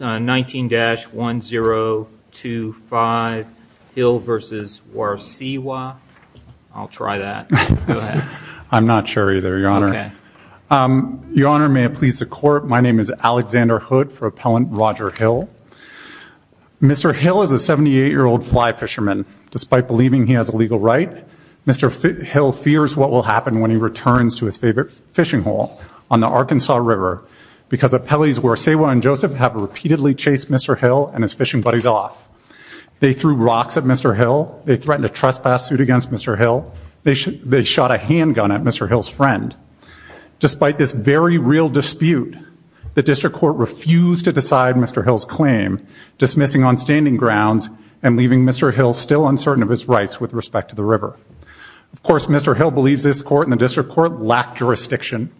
19-1025 Hill versus Warsewa. I'll try that. I'm not sure either, your honor. Your honor, may it please the court, my name is Alexander Hood for appellant Roger Hill. Mr. Hill is a 78 year old fly fisherman. Despite believing he has a legal right, Mr. Hill fears what will happen when he returns to his favorite fishing hole on the Arkansas River because appellees Warsewa and Joseph have repeatedly chased Mr. Hill and his fishing buddies off. They threw rocks at Mr. Hill. They threatened a trespass suit against Mr. Hill. They shot a handgun at Mr. Hill's friend. Despite this very real dispute, the district court refused to decide Mr. Hill's claim, dismissing on standing grounds and leaving Mr. Hill still uncertain of his rights with respect to the river. Of course, Mr. Hill believes this court and the district court lack jurisdiction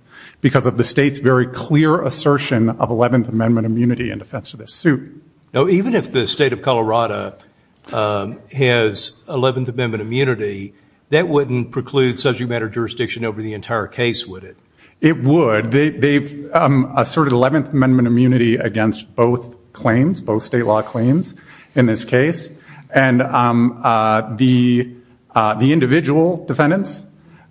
because of the state's very clear assertion of 11th Amendment immunity in defense of this suit. Now, even if the state of Colorado has 11th Amendment immunity, that wouldn't preclude subject matter jurisdiction over the entire case, would it? It would. They've asserted 11th Amendment immunity against both claims, both state law claims in this case, and the individual defendants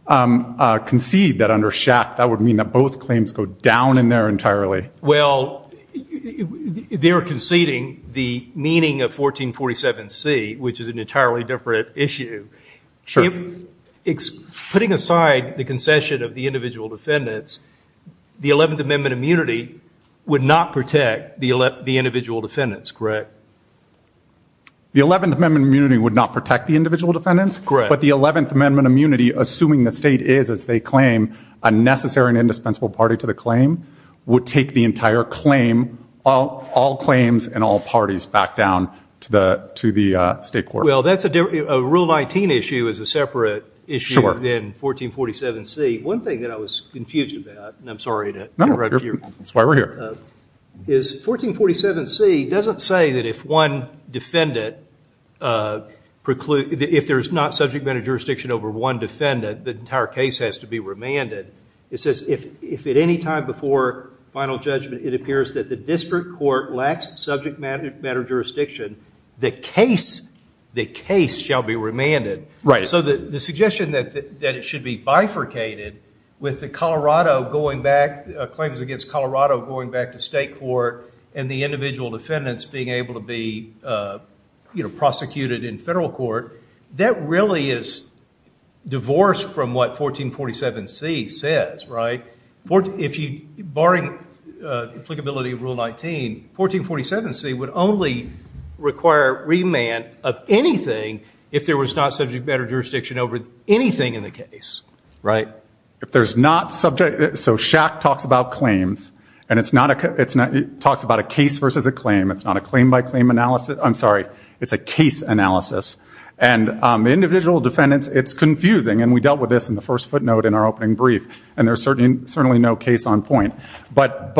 concede that under Schack that would mean that both claims go down in there entirely. Well, they're conceding the meaning of 1447 C, which is an entirely different issue. Putting aside the concession of the individual defendants, the 11th Amendment immunity would not protect the individual defendants, correct? The 11th Amendment immunity would not protect the state is, as they claim, a necessary and indispensable party to the claim, would take the entire claim, all claims and all parties back down to the state court. Well, that's a rule 19 issue is a separate issue than 1447 C. One thing that I was confused about, and I'm sorry to interrupt you, is 1447 C doesn't say that if one defendant precludes, if there's not subject matter jurisdiction over one defendant, the entire case has to be remanded. It says if at any time before final judgment it appears that the district court lacks subject matter jurisdiction, the case shall be remanded. Right. So the suggestion that it should be bifurcated with the Colorado going back, claims against Colorado going back to state court, and the individual defendants being able to be, you know, prosecuted in federal court, that really is divorced from what 1447 C says, right? If you, barring the applicability of Rule 19, 1447 C would only require remand of anything if there was not subject matter jurisdiction over anything in the case, right? If there's not subject, so Schack talks about claims, and it's not, it talks about a case versus a claim, it's not a claim by claim analysis, I'm sorry, it's a individual defendants, it's confusing, and we dealt with this in the first footnote in our opening brief, and there's certainly no case on point, but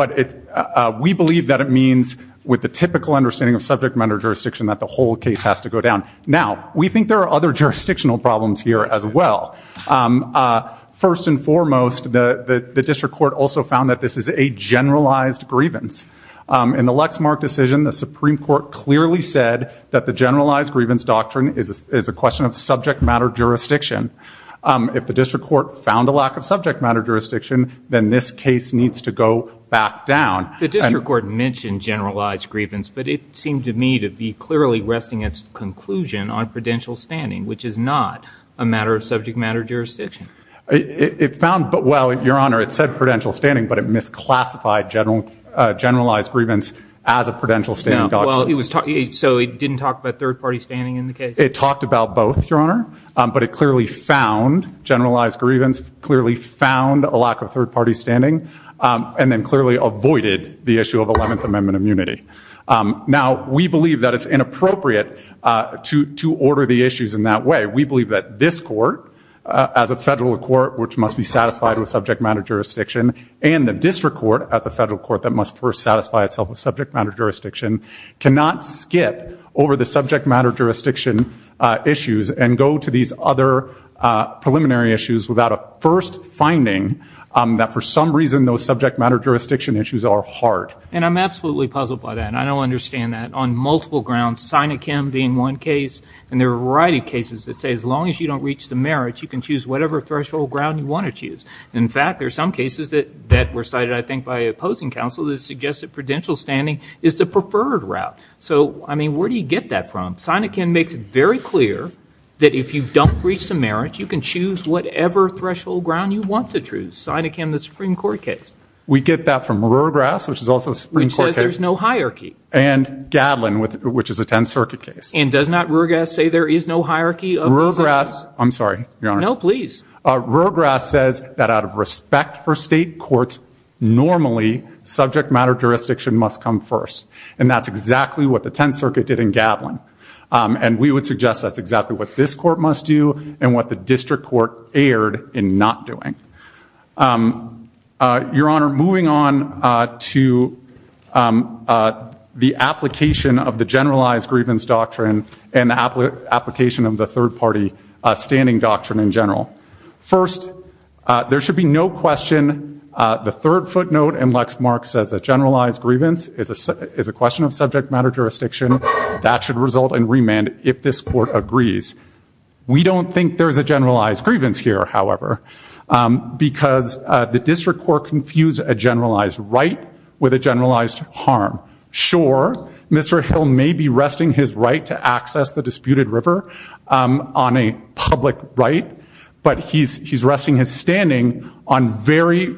we believe that it means with the typical understanding of subject matter jurisdiction that the whole case has to go down. Now, we think there are other jurisdictional problems here as well. First and foremost, the district court also found that this is a generalized grievance. In the Lexmark decision, the Supreme Court clearly said that the generalized grievance doctrine is a question of subject matter jurisdiction. If the district court found a lack of subject matter jurisdiction, then this case needs to go back down. The district court mentioned generalized grievance, but it seemed to me to be clearly resting its conclusion on prudential standing, which is not a matter of subject matter jurisdiction. It found, but well, your honor, it said prudential standing, but it misclassified generalized grievance as a prudential standing doctrine. So it didn't talk about third-party standing in the case? It talked about both, your honor, but it clearly found generalized grievance, clearly found a lack of third-party standing, and then clearly avoided the issue of Eleventh Amendment immunity. Now, we believe that it's inappropriate to order the issues in that way. We believe that this court, as a federal court which must be satisfied with subject matter jurisdiction, and the district court as a federal court that must first satisfy itself with subject matter jurisdiction issues, and go to these other preliminary issues without a first finding that for some reason those subject matter jurisdiction issues are hard. And I'm absolutely puzzled by that, and I don't understand that. On multiple grounds, Sinakim being one case, and there are a variety of cases that say as long as you don't reach the merits, you can choose whatever threshold ground you want to choose. In fact, there are some cases that that were cited, I think, by opposing counsel that suggested prudential standing is the preferred route. So, I mean, where do you get that from? Sinakim makes it very clear that if you don't reach the merits, you can choose whatever threshold ground you want to choose. Sinakim, the Supreme Court case. We get that from Ruegras, which is also a Supreme Court case. Which says there's no hierarchy. And Gadlin, which is a 10th Circuit case. And does not Ruegras say there is no hierarchy? Ruegras, I'm sorry, your honor. No, please. Ruegras says that out of respect for state courts, normally subject matter jurisdiction must come first. And that's exactly what the 10th Circuit did in Gadlin. And we would suggest that's exactly what this court must do, and what the district court erred in not doing. Your honor, moving on to the application of the generalized grievance doctrine, and the application of the third-party standing doctrine in general. First, there should be no question the third footnote in Lexmark says a generalized grievance is a question of subject matter jurisdiction. That should result in remand if this court agrees. We don't think there's a generalized grievance here, however, because the district court confused a generalized right with a generalized harm. Sure, Mr. Hill may be resting his right to access the disputed river on a public right, but he's resting his standing on very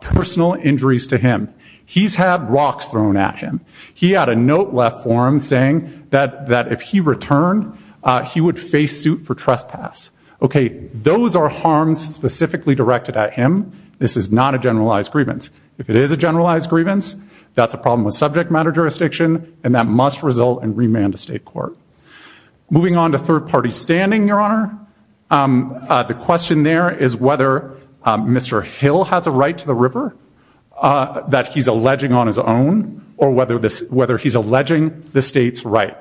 personal injuries to him. He's had rocks thrown at him. He had a note left for him saying that if he returned, he would face suit for trespass. Okay, those are harms specifically directed at him. This is not a generalized grievance. If it is a generalized grievance, that's a problem with subject matter jurisdiction, and that must result in remand to state court. Moving on to third-party standing, your honor, the question there is whether Mr. Hill has a right to the river that he's alleging on his own, or whether he's alleging the state's right.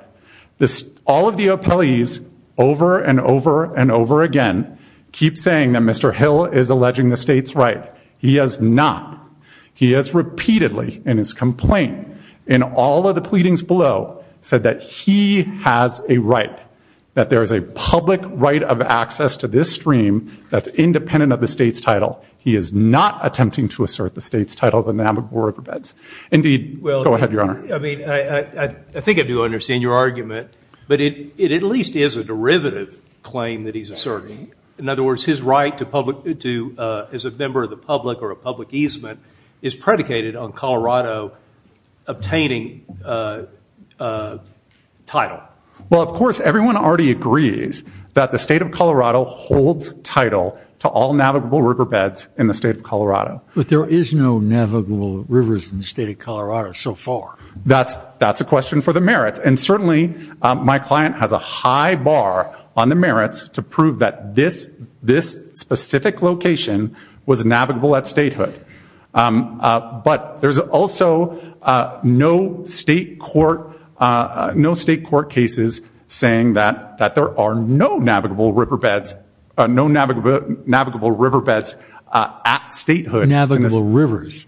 All of the appellees, over and over and over again, keep saying that Mr. Hill is alleging the state's right. He has not. He has repeatedly, in his pleadings below, said that he has a right, that there is a public right of access to this stream that's independent of the state's title. He is not attempting to assert the state's title, the Navajo Riverbeds. Indeed, go ahead, your honor. I mean, I think I do understand your argument, but it at least is a derivative claim that he's asserting. In other words, his right to public, to, as a member of the public or a public easement, is predicated on title. Well, of course, everyone already agrees that the state of Colorado holds title to all navigable riverbeds in the state of Colorado. But there is no navigable rivers in the state of Colorado so far. That's a question for the merits, and certainly my client has a high bar on the merits to prove that this specific location was navigable at statehood. But there's also no state court, no state court cases saying that that there are no navigable riverbeds, no navigable riverbeds at statehood. Navigable rivers.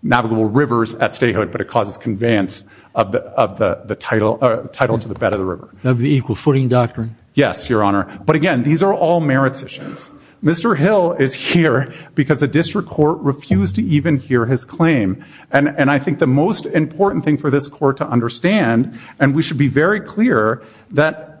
Navigable rivers at statehood, but it causes conveyance of the title, title to the bed of the river. Of the equal footing doctrine. Yes, your honor. But again, these are all merits issues. Mr. Hill is here because the district court refused to even hear his claim. And I think the most important thing for this court to understand, and we should be very clear that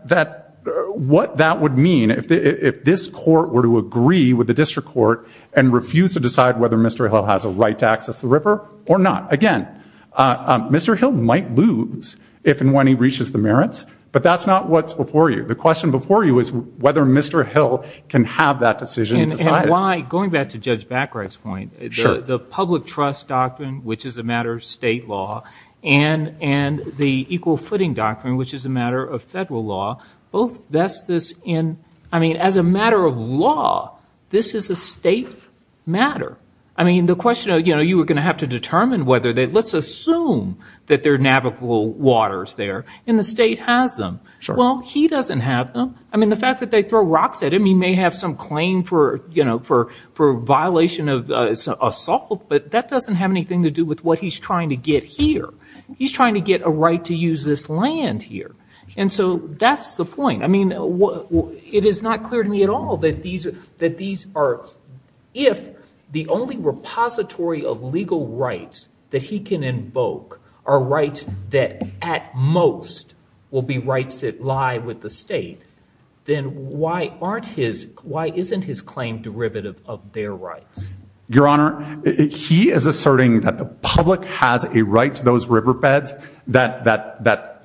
what that would mean if this court were to agree with the district court and refuse to decide whether Mr. Hill has a right to access the river or not. Again, Mr. Hill might lose if and when he reaches the merits, but that's not what's before you. The question before you is whether Mr. Hill can have that decision. And why, going back to Judge Backright's point, the public trust doctrine, which is a matter of state law, and the equal footing doctrine, which is a matter of federal law, both vest this in, I mean, as a matter of law, this is a state matter. I mean, the question of, you know, you were going to have to determine whether they, let's assume that there are navigable waters there, and the state has them. Well, he doesn't have them. I mean, the fact that they throw rocks at him, he may have some claim for, you know, for violation of assault, but that doesn't have anything to do with what he's trying to get here. He's trying to get a right to use this land here. And so that's the point. I mean, it is not clear to me at all that these are, if the only repository of legal rights that he can invoke are rights that, at most, will be rights that lie with the state, then why aren't his, why isn't his claim derivative of their rights? Your Honor, he is asserting that the public has a right to those riverbeds that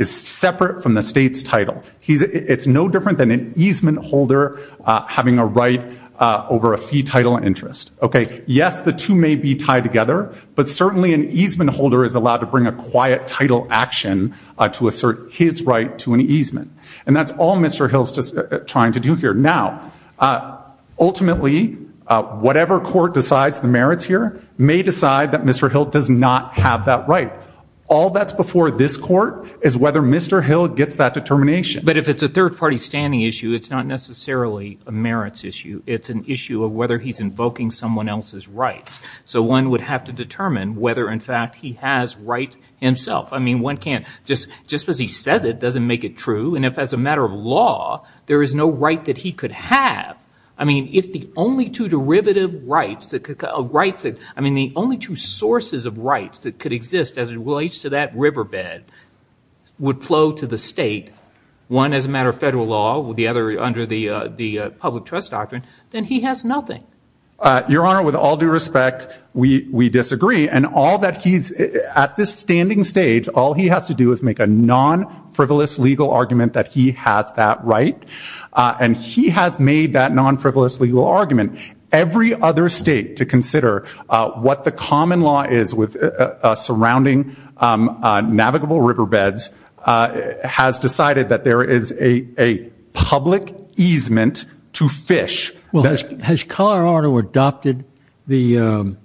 is separate from the state's title. It's no different than an easement holder having a right over a fee title interest. Okay, yes, the two may be tied together, but certainly an easement holder is allowed to bring a quiet title action to all Mr. Hill's trying to do here. Now, ultimately, whatever court decides the merits here may decide that Mr. Hill does not have that right. All that's before this court is whether Mr. Hill gets that determination. But if it's a third-party standing issue, it's not necessarily a merits issue. It's an issue of whether he's invoking someone else's rights. So one would have to determine whether, in fact, he has rights himself. I mean, one can't just, just because he says it doesn't make it true. And if, as a matter of law, there is no right that he could have, I mean, if the only two derivative rights that could, rights that, I mean, the only two sources of rights that could exist as it relates to that riverbed would flow to the state, one as a matter of federal law, the other under the, the public trust doctrine, then he has nothing. Your Honor, with all due respect, we, we disagree. And all that he's, at this standing stage, all he has to do is make a non-frivolous legal argument that he has that right. And he has made that non-frivolous legal argument. Every other state, to consider what the common law is with surrounding navigable riverbeds, has decided that there is a public easement to fish. Well, has Colorado adopted the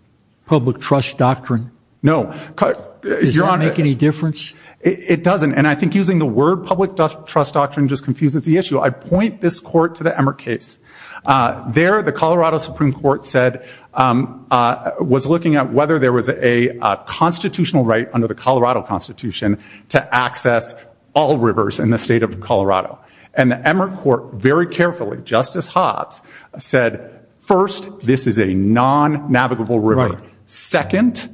public trust doctrine? No. Does that make any difference? It doesn't. And I think using the word public trust doctrine just confuses the issue. I point this court to the Emmert case. There, the Colorado Supreme Court said, was looking at whether there was a constitutional right under the Colorado Constitution to access all rivers in the state of Colorado. And the Emmert court, very carefully, Justice Hobbs, said, first, this is a non-navigable river. Second,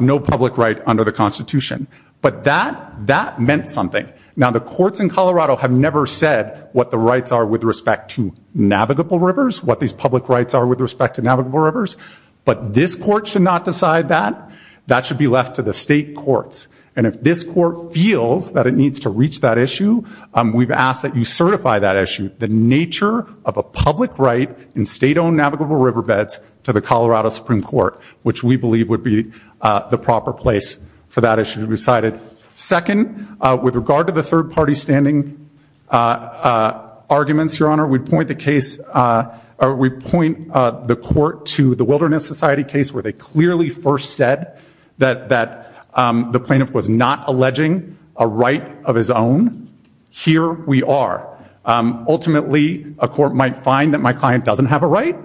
no public right under the Constitution. But that, that meant something. Now, the courts in Colorado have never said what the rights are with respect to navigable rivers, what these public rights are with respect to navigable rivers. But this court should not decide that. That should be left to the state courts. And if this court feels that it needs to reach that issue, we've asked that you certify that issue. The nature of a public right in state-owned navigable riverbeds to the Colorado Supreme Court, which we believe would be the proper place for that issue to be decided. Second, with regard to the third-party standing arguments, Your Honor, we point the case, or we point the court to the Wilderness Society case, where they clearly first said that the plaintiff was not alleging a right of his own. Here we are. Ultimately, a court might find that my client doesn't have a right,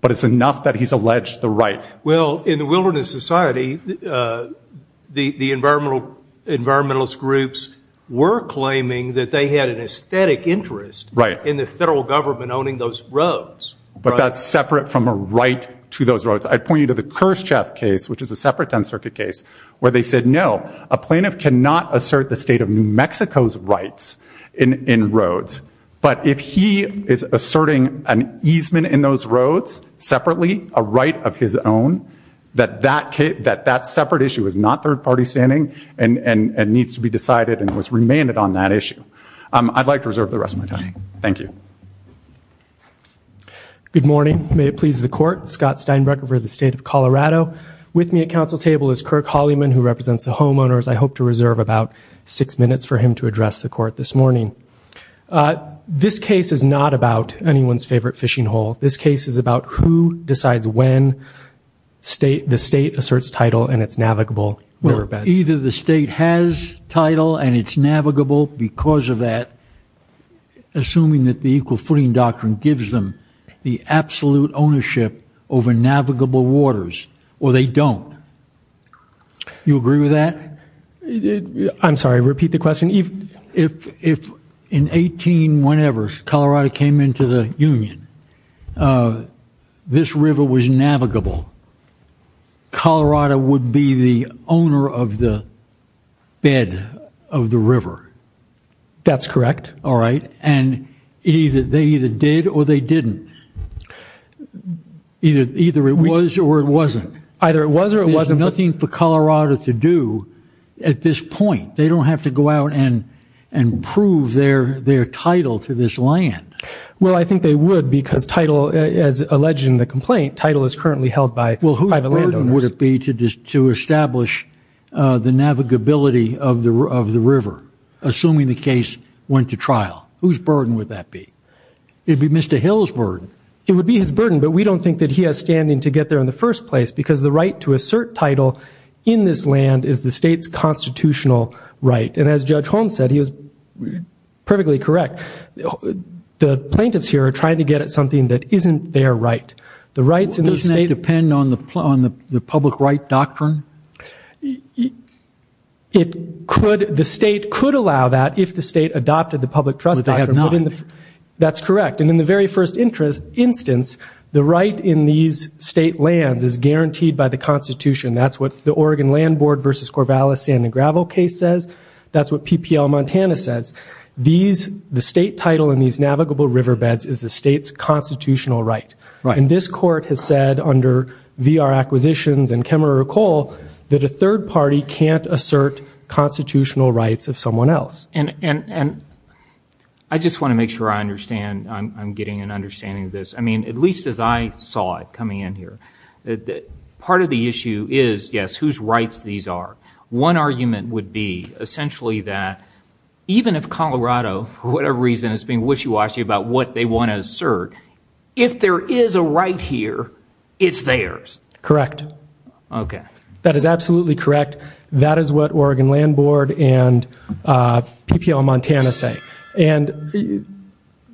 but it's enough that he's alleged the right. Well, in the Wilderness Society, the environmentalist groups were claiming that they had an aesthetic interest in the federal government owning those roads. But that's separate from a right to those roads. I'd point you to the Khrushchev case, which is a separate 10th Circuit case, where they said, no, a plaintiff cannot assert the state of New Mexico's rights in New Mexico. If he is asserting an easement in those roads separately, a right of his own, that that separate issue is not third-party standing and needs to be decided and was remanded on that issue. I'd like to reserve the rest of my time. Thank you. Good morning. May it please the Court. Scott Steinbrecher for the State of Colorado. With me at council table is Kirk Holliman, who represents the homeowners. I hope to reserve about six minutes for him to This case is not about anyone's favorite fishing hole. This case is about who decides when the state asserts title and it's navigable riverbeds. Well, either the state has title and it's navigable because of that, assuming that the equal footing doctrine gives them the absolute ownership over navigable waters, or they don't. You agree with that? I'm sorry, repeat the question. If in 18 whenever Colorado came into the Union, this river was navigable, Colorado would be the owner of the bed of the river. That's correct. All right, and either they either did or they didn't. Either it was or it wasn't. Either it was or it wasn't. There's nothing for Colorado to do at this point. They don't have to go out and prove their title to this land. Well, I think they would because title, as alleged in the complaint, title is currently held by private landowners. Well, whose burden would it be to establish the navigability of the river, assuming the case went to trial? Whose burden would that be? It'd be Mr. Hill's burden. It would be his burden, but we don't think that he has standing to get there in the first place, because the right to assert title in this land is the state's constitutional right. And as perfectly correct, the plaintiffs here are trying to get at something that isn't their right. The rights in the state... Doesn't that depend on the public right doctrine? It could, the state could allow that if the state adopted the public trust doctrine. But they have not. That's correct, and in the very first instance the right in these state lands is guaranteed by the Constitution. That's what the Oregon Land Board versus Corvallis Sand and Gravel case says. That's what PPL Montana says. These, the state title in these navigable riverbeds is the state's constitutional right. And this court has said under VR acquisitions and Kemmerer Coal, that a third party can't assert constitutional rights of someone else. And I just want to make sure I understand, I'm getting an understanding of this. I mean, at least as I saw it coming in here, that part of the issue is, yes, whose rights these are. One argument would be essentially that even if Colorado, for whatever reason, is being wishy-washy about what they want to assert, if there is a right here, it's theirs. Correct. Okay. That is absolutely correct. That is what Oregon Land Board and PPL Montana say. And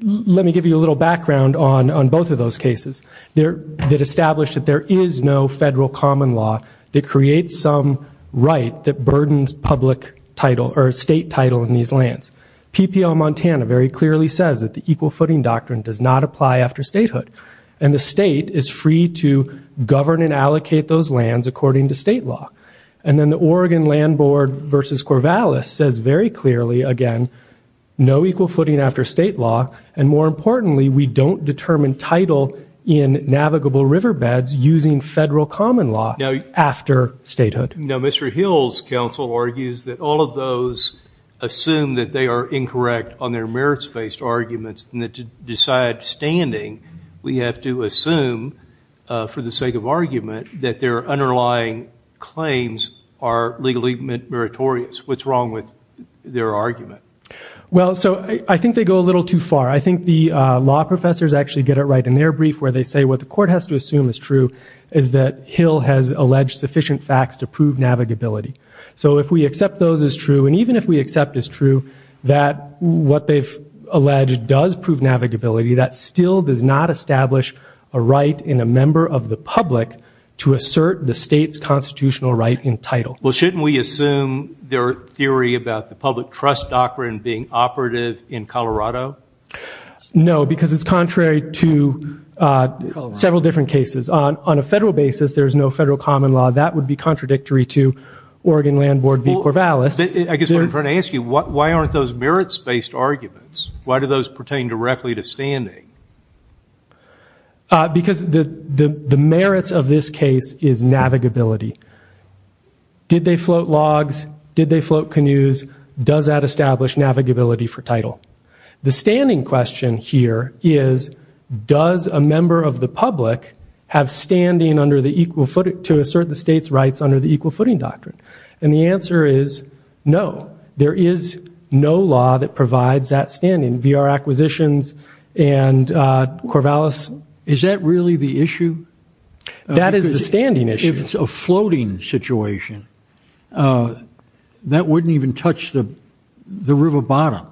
let me give you a little background on on both of those cases. They established that there is no federal common law that creates some right that burdens public title or state title in these lands. PPL Montana very clearly says that the equal footing doctrine does not apply after statehood. And the state is free to govern and allocate those lands according to state law. And then the Oregon Land Board versus Corvallis says very clearly, again, no equal footing after state law. And more importantly, we don't determine title in navigable riverbeds using federal common law after statehood. Now, Mr. Hill's counsel argues that all of those assume that they are incorrect on their merits-based arguments and that to decide standing, we have to assume for the sake of argument that their underlying claims are legally meritorious. What's wrong with their argument? Well, so I think they go a little too far. I think the law professors actually get it right in their brief where they say what the court has to assume is true is that Hill has alleged sufficient facts to prove navigability. So if we accept those as true, and even if we accept as true that what they've alleged does prove navigability, that still does not establish a right in a member of the public to assert the state's constitutional right in title. Well, shouldn't we assume their theory about the public trust doctrine being operative in Colorado? No, because it's contrary to several different cases on a federal basis. There's no federal common law. That would be contradictory to Oregon Land Board v. Corvallis. I guess what I'm trying to ask you, why aren't those merits-based arguments? Why do those pertain directly to standing? Because the merits of this case is navigability. Did they float logs? Did they float canoes? Does that establish navigability for title? The standing question here is, does a member of the public have standing to assert the state's rights under the equal footing doctrine? And the answer is no. There is no law that provides that standing. V.R. Acquisitions and Corvallis. Is that really the issue? That is the standing issue. If it's a floating situation, that wouldn't even touch the river bottom.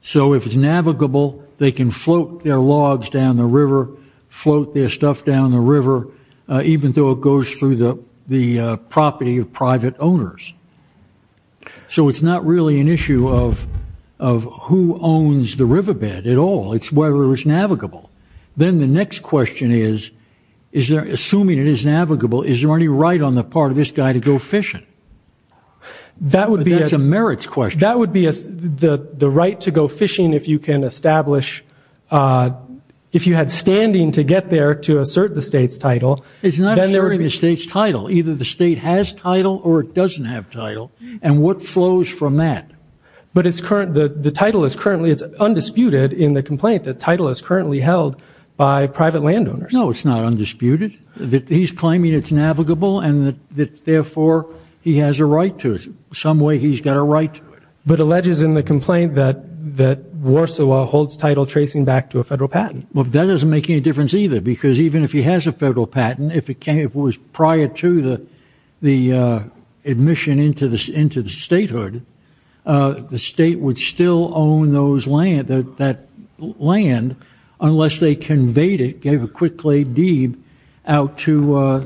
So if it's navigable, they can float their logs down the river, float their stuff down the river, even though it goes through the property of private owners. So it's not really an issue of who owns the riverbed at all. It's whether it's navigable. Then the next question is, assuming it is navigable, is there any right on the part of this guy to go fishing? That's a merits question. That would be the right to go fishing if you can establish, if you had standing to get there to assert the state's title. It's not asserting the state's title. Either the state has title or it doesn't have title. And what flows from that? But it's current, the title is currently, it's undisputed in the complaint that title is currently held by private landowners. No, it's not undisputed that he's claiming it's navigable and that therefore he has a right to it. Some way he's got a right to it. But alleges in the complaint that that Warsaw holds title tracing back to a federal patent. Well, that doesn't make any difference either because even if he has a federal patent, if it came, it was prior to the, the admission into the, into the statehood, the state would still own those land, that land, unless they conveyed it, gave a quick clade deed out to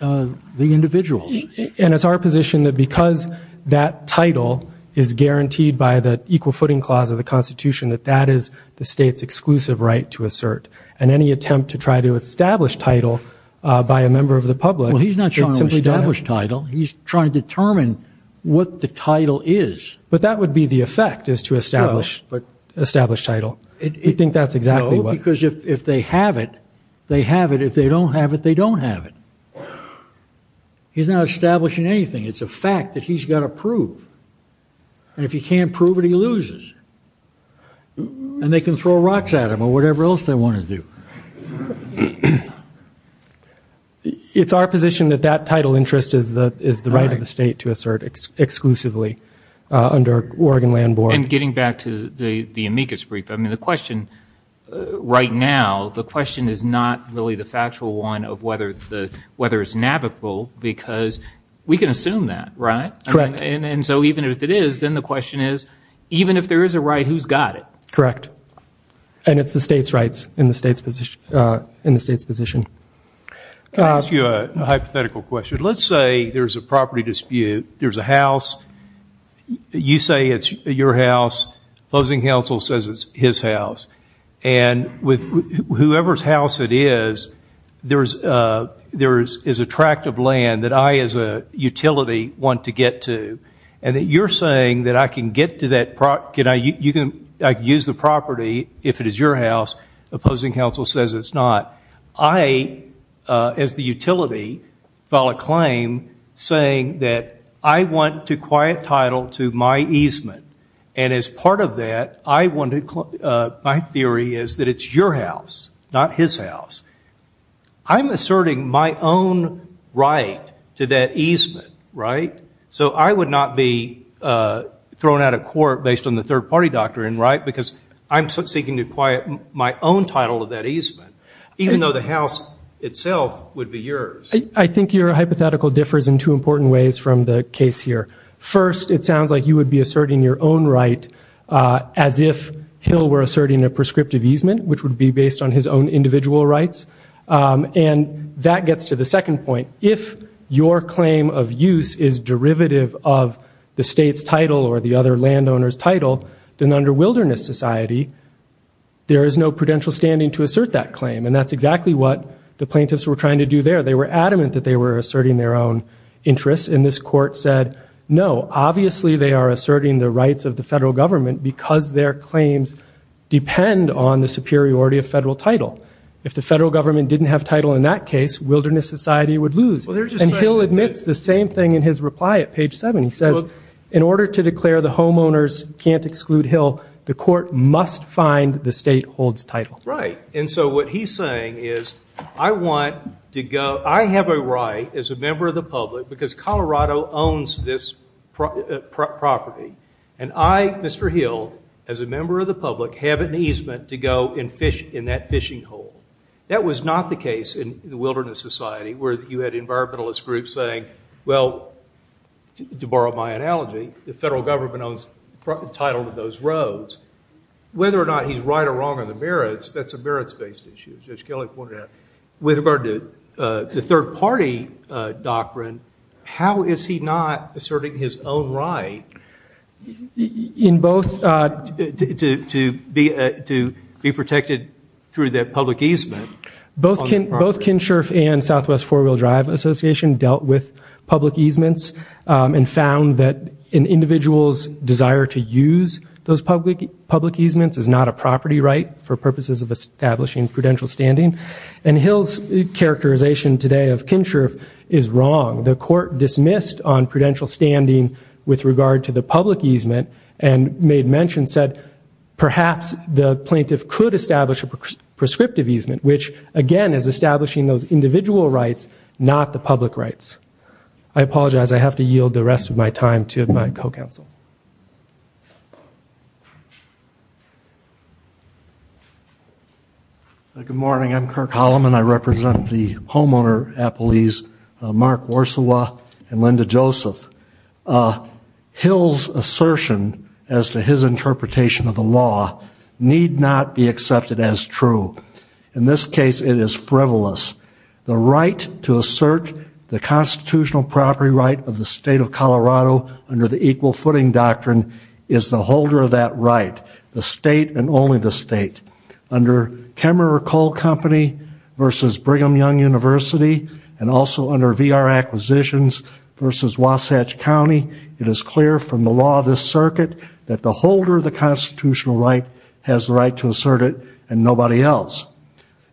the individuals. And it's our position that because that title is guaranteed by the equal footing clause of the constitution, that that is the state's exclusive right to assert and any attempt to try to establish title by a member of the public. Well, he's not trying to establish title. He's trying to determine what the title is, but that would be the effect is to establish, but establish title. It think that's exactly what, because if they have it, they have it. If they don't have it, they don't have it. He's not establishing anything. It's a fact that he's got to prove. And if he can't prove it, he loses and they can throw rocks at him or whatever else they want to do. It's our position that that title interest is the, is the right of the state to assert exclusively under Oregon land board. And getting back to the, the amicus brief. I mean, the question right now, the question is not really the factual one of whether the weather is navigable because we can assume that, right? Correct. And so even if it is, then the question is, even if there is a right, who's got it. Correct. And it's the state's rights in the state's position, uh, in the state's position. Can I ask you a hypothetical question? Let's say there's a property dispute. There's a house. You say it's your house. Opposing counsel says it's his house and with whoever's house it is, there's a, there is, is attractive land that I as a utility want to get to and that you're saying that I can get to that. Can I, you can use the property if it is your house. Opposing counsel says it's not. I, uh, as the utility file a claim saying that I want to quiet title to my easement and as part of that, I wanted, uh, my theory is that it's your house, not his house. I'm asserting my own right to that easement, right? So I would not be, uh, thrown out of court based on the third party doctrine, right? Because I'm seeking to quiet my own title of that easement, even though the house itself would be yours. I think your hypothetical differs in two important ways from the case here. First, it sounds like you would be asserting your own right, uh, as if Hill were asserting a prescriptive easement, which would be based on his own individual rights. Um, and that gets to the second point. If your claim of use is derivative of the state's title or the other landowner's title, then under wilderness society, there is no prudential standing to assert that claim. And that's exactly what the plaintiffs were trying to do there. They were adamant that they were asserting their own interests. And this court said, no, obviously they are asserting the rights of the federal government because their claims depend on the superiority of federal title. If the federal government didn't have title in that case, wilderness society would lose. And Hill admits the same thing in his reply at page seven. He says, in order to declare the homeowners can't exclude Hill, the court must find the state holds title. Right. And so what he's saying is I want to go, I have a right as a member of the public because Colorado owns this property. And I, Mr. Hill, as a member of the public, have an easement to go and fish in that fishing hole. That was not the case in the wilderness society where you had environmentalist groups saying, well, to borrow my analogy, the federal government owns the title of those roads. Whether or not he's right or wrong on the merits, that's a merits based issue, as Kelly pointed out. With regard to the third party doctrine, how is he not asserting his own right? In both, uh, to, to, to be, uh, to be protected through that public easement. Both Ken Schirff and Southwest Four-Wheel Drive Association dealt with public easements and found that an individual's desire to use those public, public easements is not a property right for purposes of establishing prudential standing. And Hill's characterization today of Ken Schirff is wrong. The court dismissed on prudential standing with regard to the public easement and made mention said perhaps the plaintiff could establish a prescriptive easement, which again is establishing those individual rights, not the public rights. I apologize. I have to yield the rest of my time to my co-counsel. Good morning. I'm Kirk Holloman. I represent the homeowner appellees, uh, Mark Worsawa and Linda Joseph. Uh, Hill's assertion as to his interpretation of the law need not be accepted as true. In this case, it is frivolous. The right to assert the constitutional property right of the state of Colorado under the equal footing doctrine is the holder of that right. The state and only the state under Kemmerer Coal Company versus Brigham Young University and also under VR acquisitions versus Wasatch County. It is clear from the law of this circuit that the holder of the constitutional right has the right to assert it and nobody else.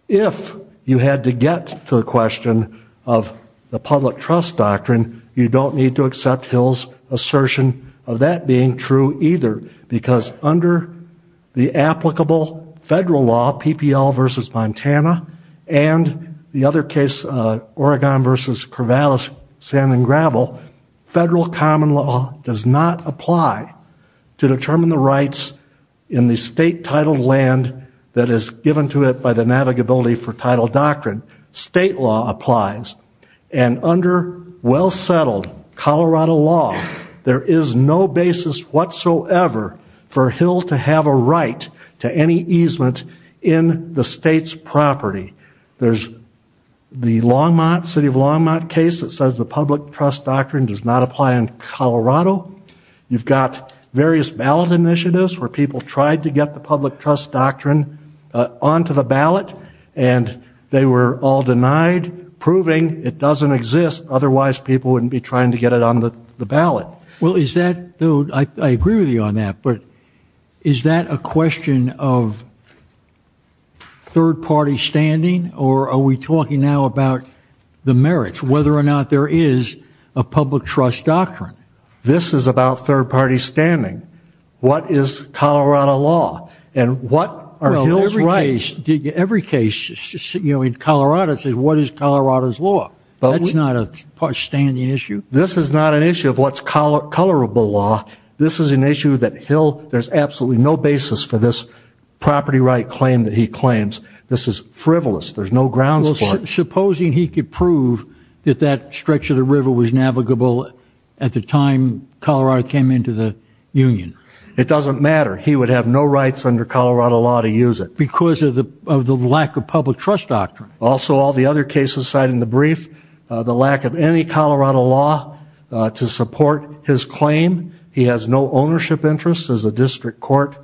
If you had to get to the question of the public trust doctrine, you don't need to accept Hill's assertion of that being true either because under the applicable federal law, PPL versus Montana and the other case, uh, Oregon versus Corvallis, sand and gravel, federal common law does not apply to determine the rights in the state titled land that is given to it by the navigability for title doctrine. State law applies and under well settled Colorado law, there is no basis whatsoever for Hill to have a right to any easement in the state's property. There's the Longmont city of Longmont case that says the public trust doctrine does not apply in Colorado. You've got various ballot initiatives where people tried to get the public trust doctrine onto the ballot and they were all denied proving it doesn't exist. Otherwise people wouldn't be trying to get it on the ballot. Well, is that though? I agree with you on that. But is that a question of third party standing or are we talking now about the merits, whether or not there is a public trust doctrine? This is about third party standing. What is Colorado law and what are Hills rights? Every case, you know, in Colorado says, what is Colorado's law? That's not a standing issue. This is not an issue of what's color, colorable law. This is an issue that Hill, there's absolutely no basis for this property right claim that he claims. This is frivolous. There's no grounds for it. Supposing he could prove that that stretch of the river was navigable at the time Colorado came into the union, it doesn't matter. He would have no rights under Colorado law to use it because of the lack of public trust doctrine. Also, all the other cases cited in the brief, the lack of any Colorado law to support his claim. He has no ownership interests as a district court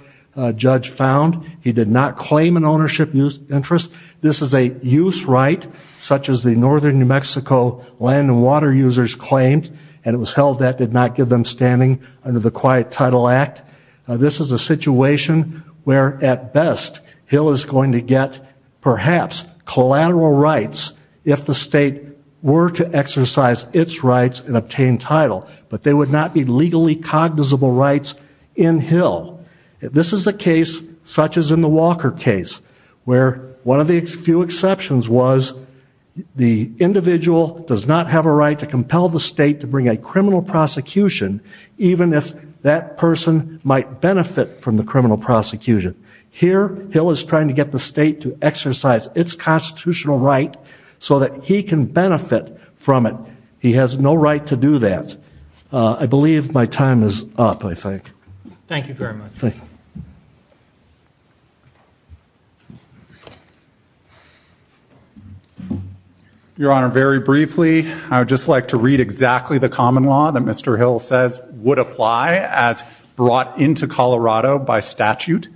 judge found. He did not claim an ownership use interest. This is a use right such as the Northern New Mexico land and water users claimed and it was held that did not give them standing under the quiet title act. This is a situation where at best Hill is going to get perhaps collateral rights if the state were to exercise its rights and obtain title, but they would not be legally cognizable rights in Hill. This is a case such as in the Walker case where one of the few exceptions was the individual does not have a right to compel the state to bring a criminal prosecution even if that person might benefit from the criminal prosecution. Here, Hill is trying to get the state to exercise its constitutional right so that he can benefit from it. He has no right to do that. I believe my time is up, I think. Thank you very much. Thank you. Your honor. Very briefly, I would just like to read exactly the common law that Mr Hill says would apply as brought into Colorado by statute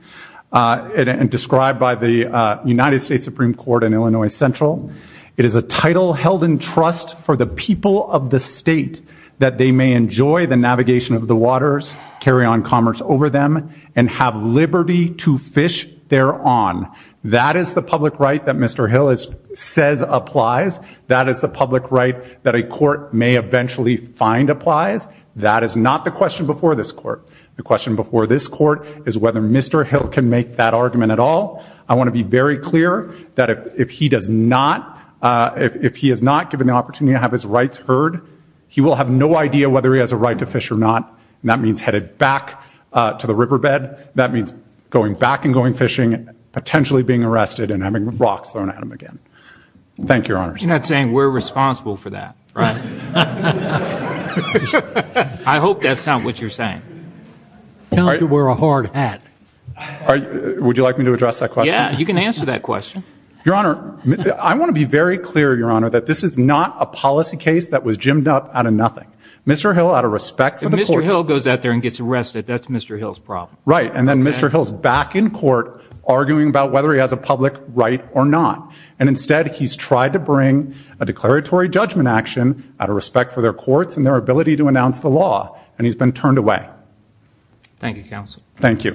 and described by the United States Supreme Court in Illinois central. It is a title held in trust for the people of the state that they may enjoy the freedom and have liberty to fish there on. That is the public right that Mr Hill is says applies. That is the public right that a court may eventually find applies. That is not the question before this court. The question before this court is whether Mr Hill can make that argument at all. I want to be very clear that if he does not, uh, if he has not given the opportunity to have his rights heard, he will have no idea whether he has a right to fish or not. And that means headed back, uh, to the riverbed. That means going back and going fishing and potentially being arrested and having rocks thrown at him again. Thank you, your honor. You're not saying we're responsible for that, right? I hope that's not what you're saying. Tell him to wear a hard hat. Would you like me to address that question? You can answer that question. Your honor. I want to be very clear, your honor, that this is not a policy case that was jimmed up out of nothing. Mr Hill, out of respect for Mr Hill goes out there and gets arrested. That's Mr Hill's problem, right? And then Mr Hill's back in court arguing about whether he has a public right or not. And instead he's tried to bring a declaratory judgment action out of respect for their courts and their ability to announce the law. And he's been turned away. Thank you, counsel. Thank you.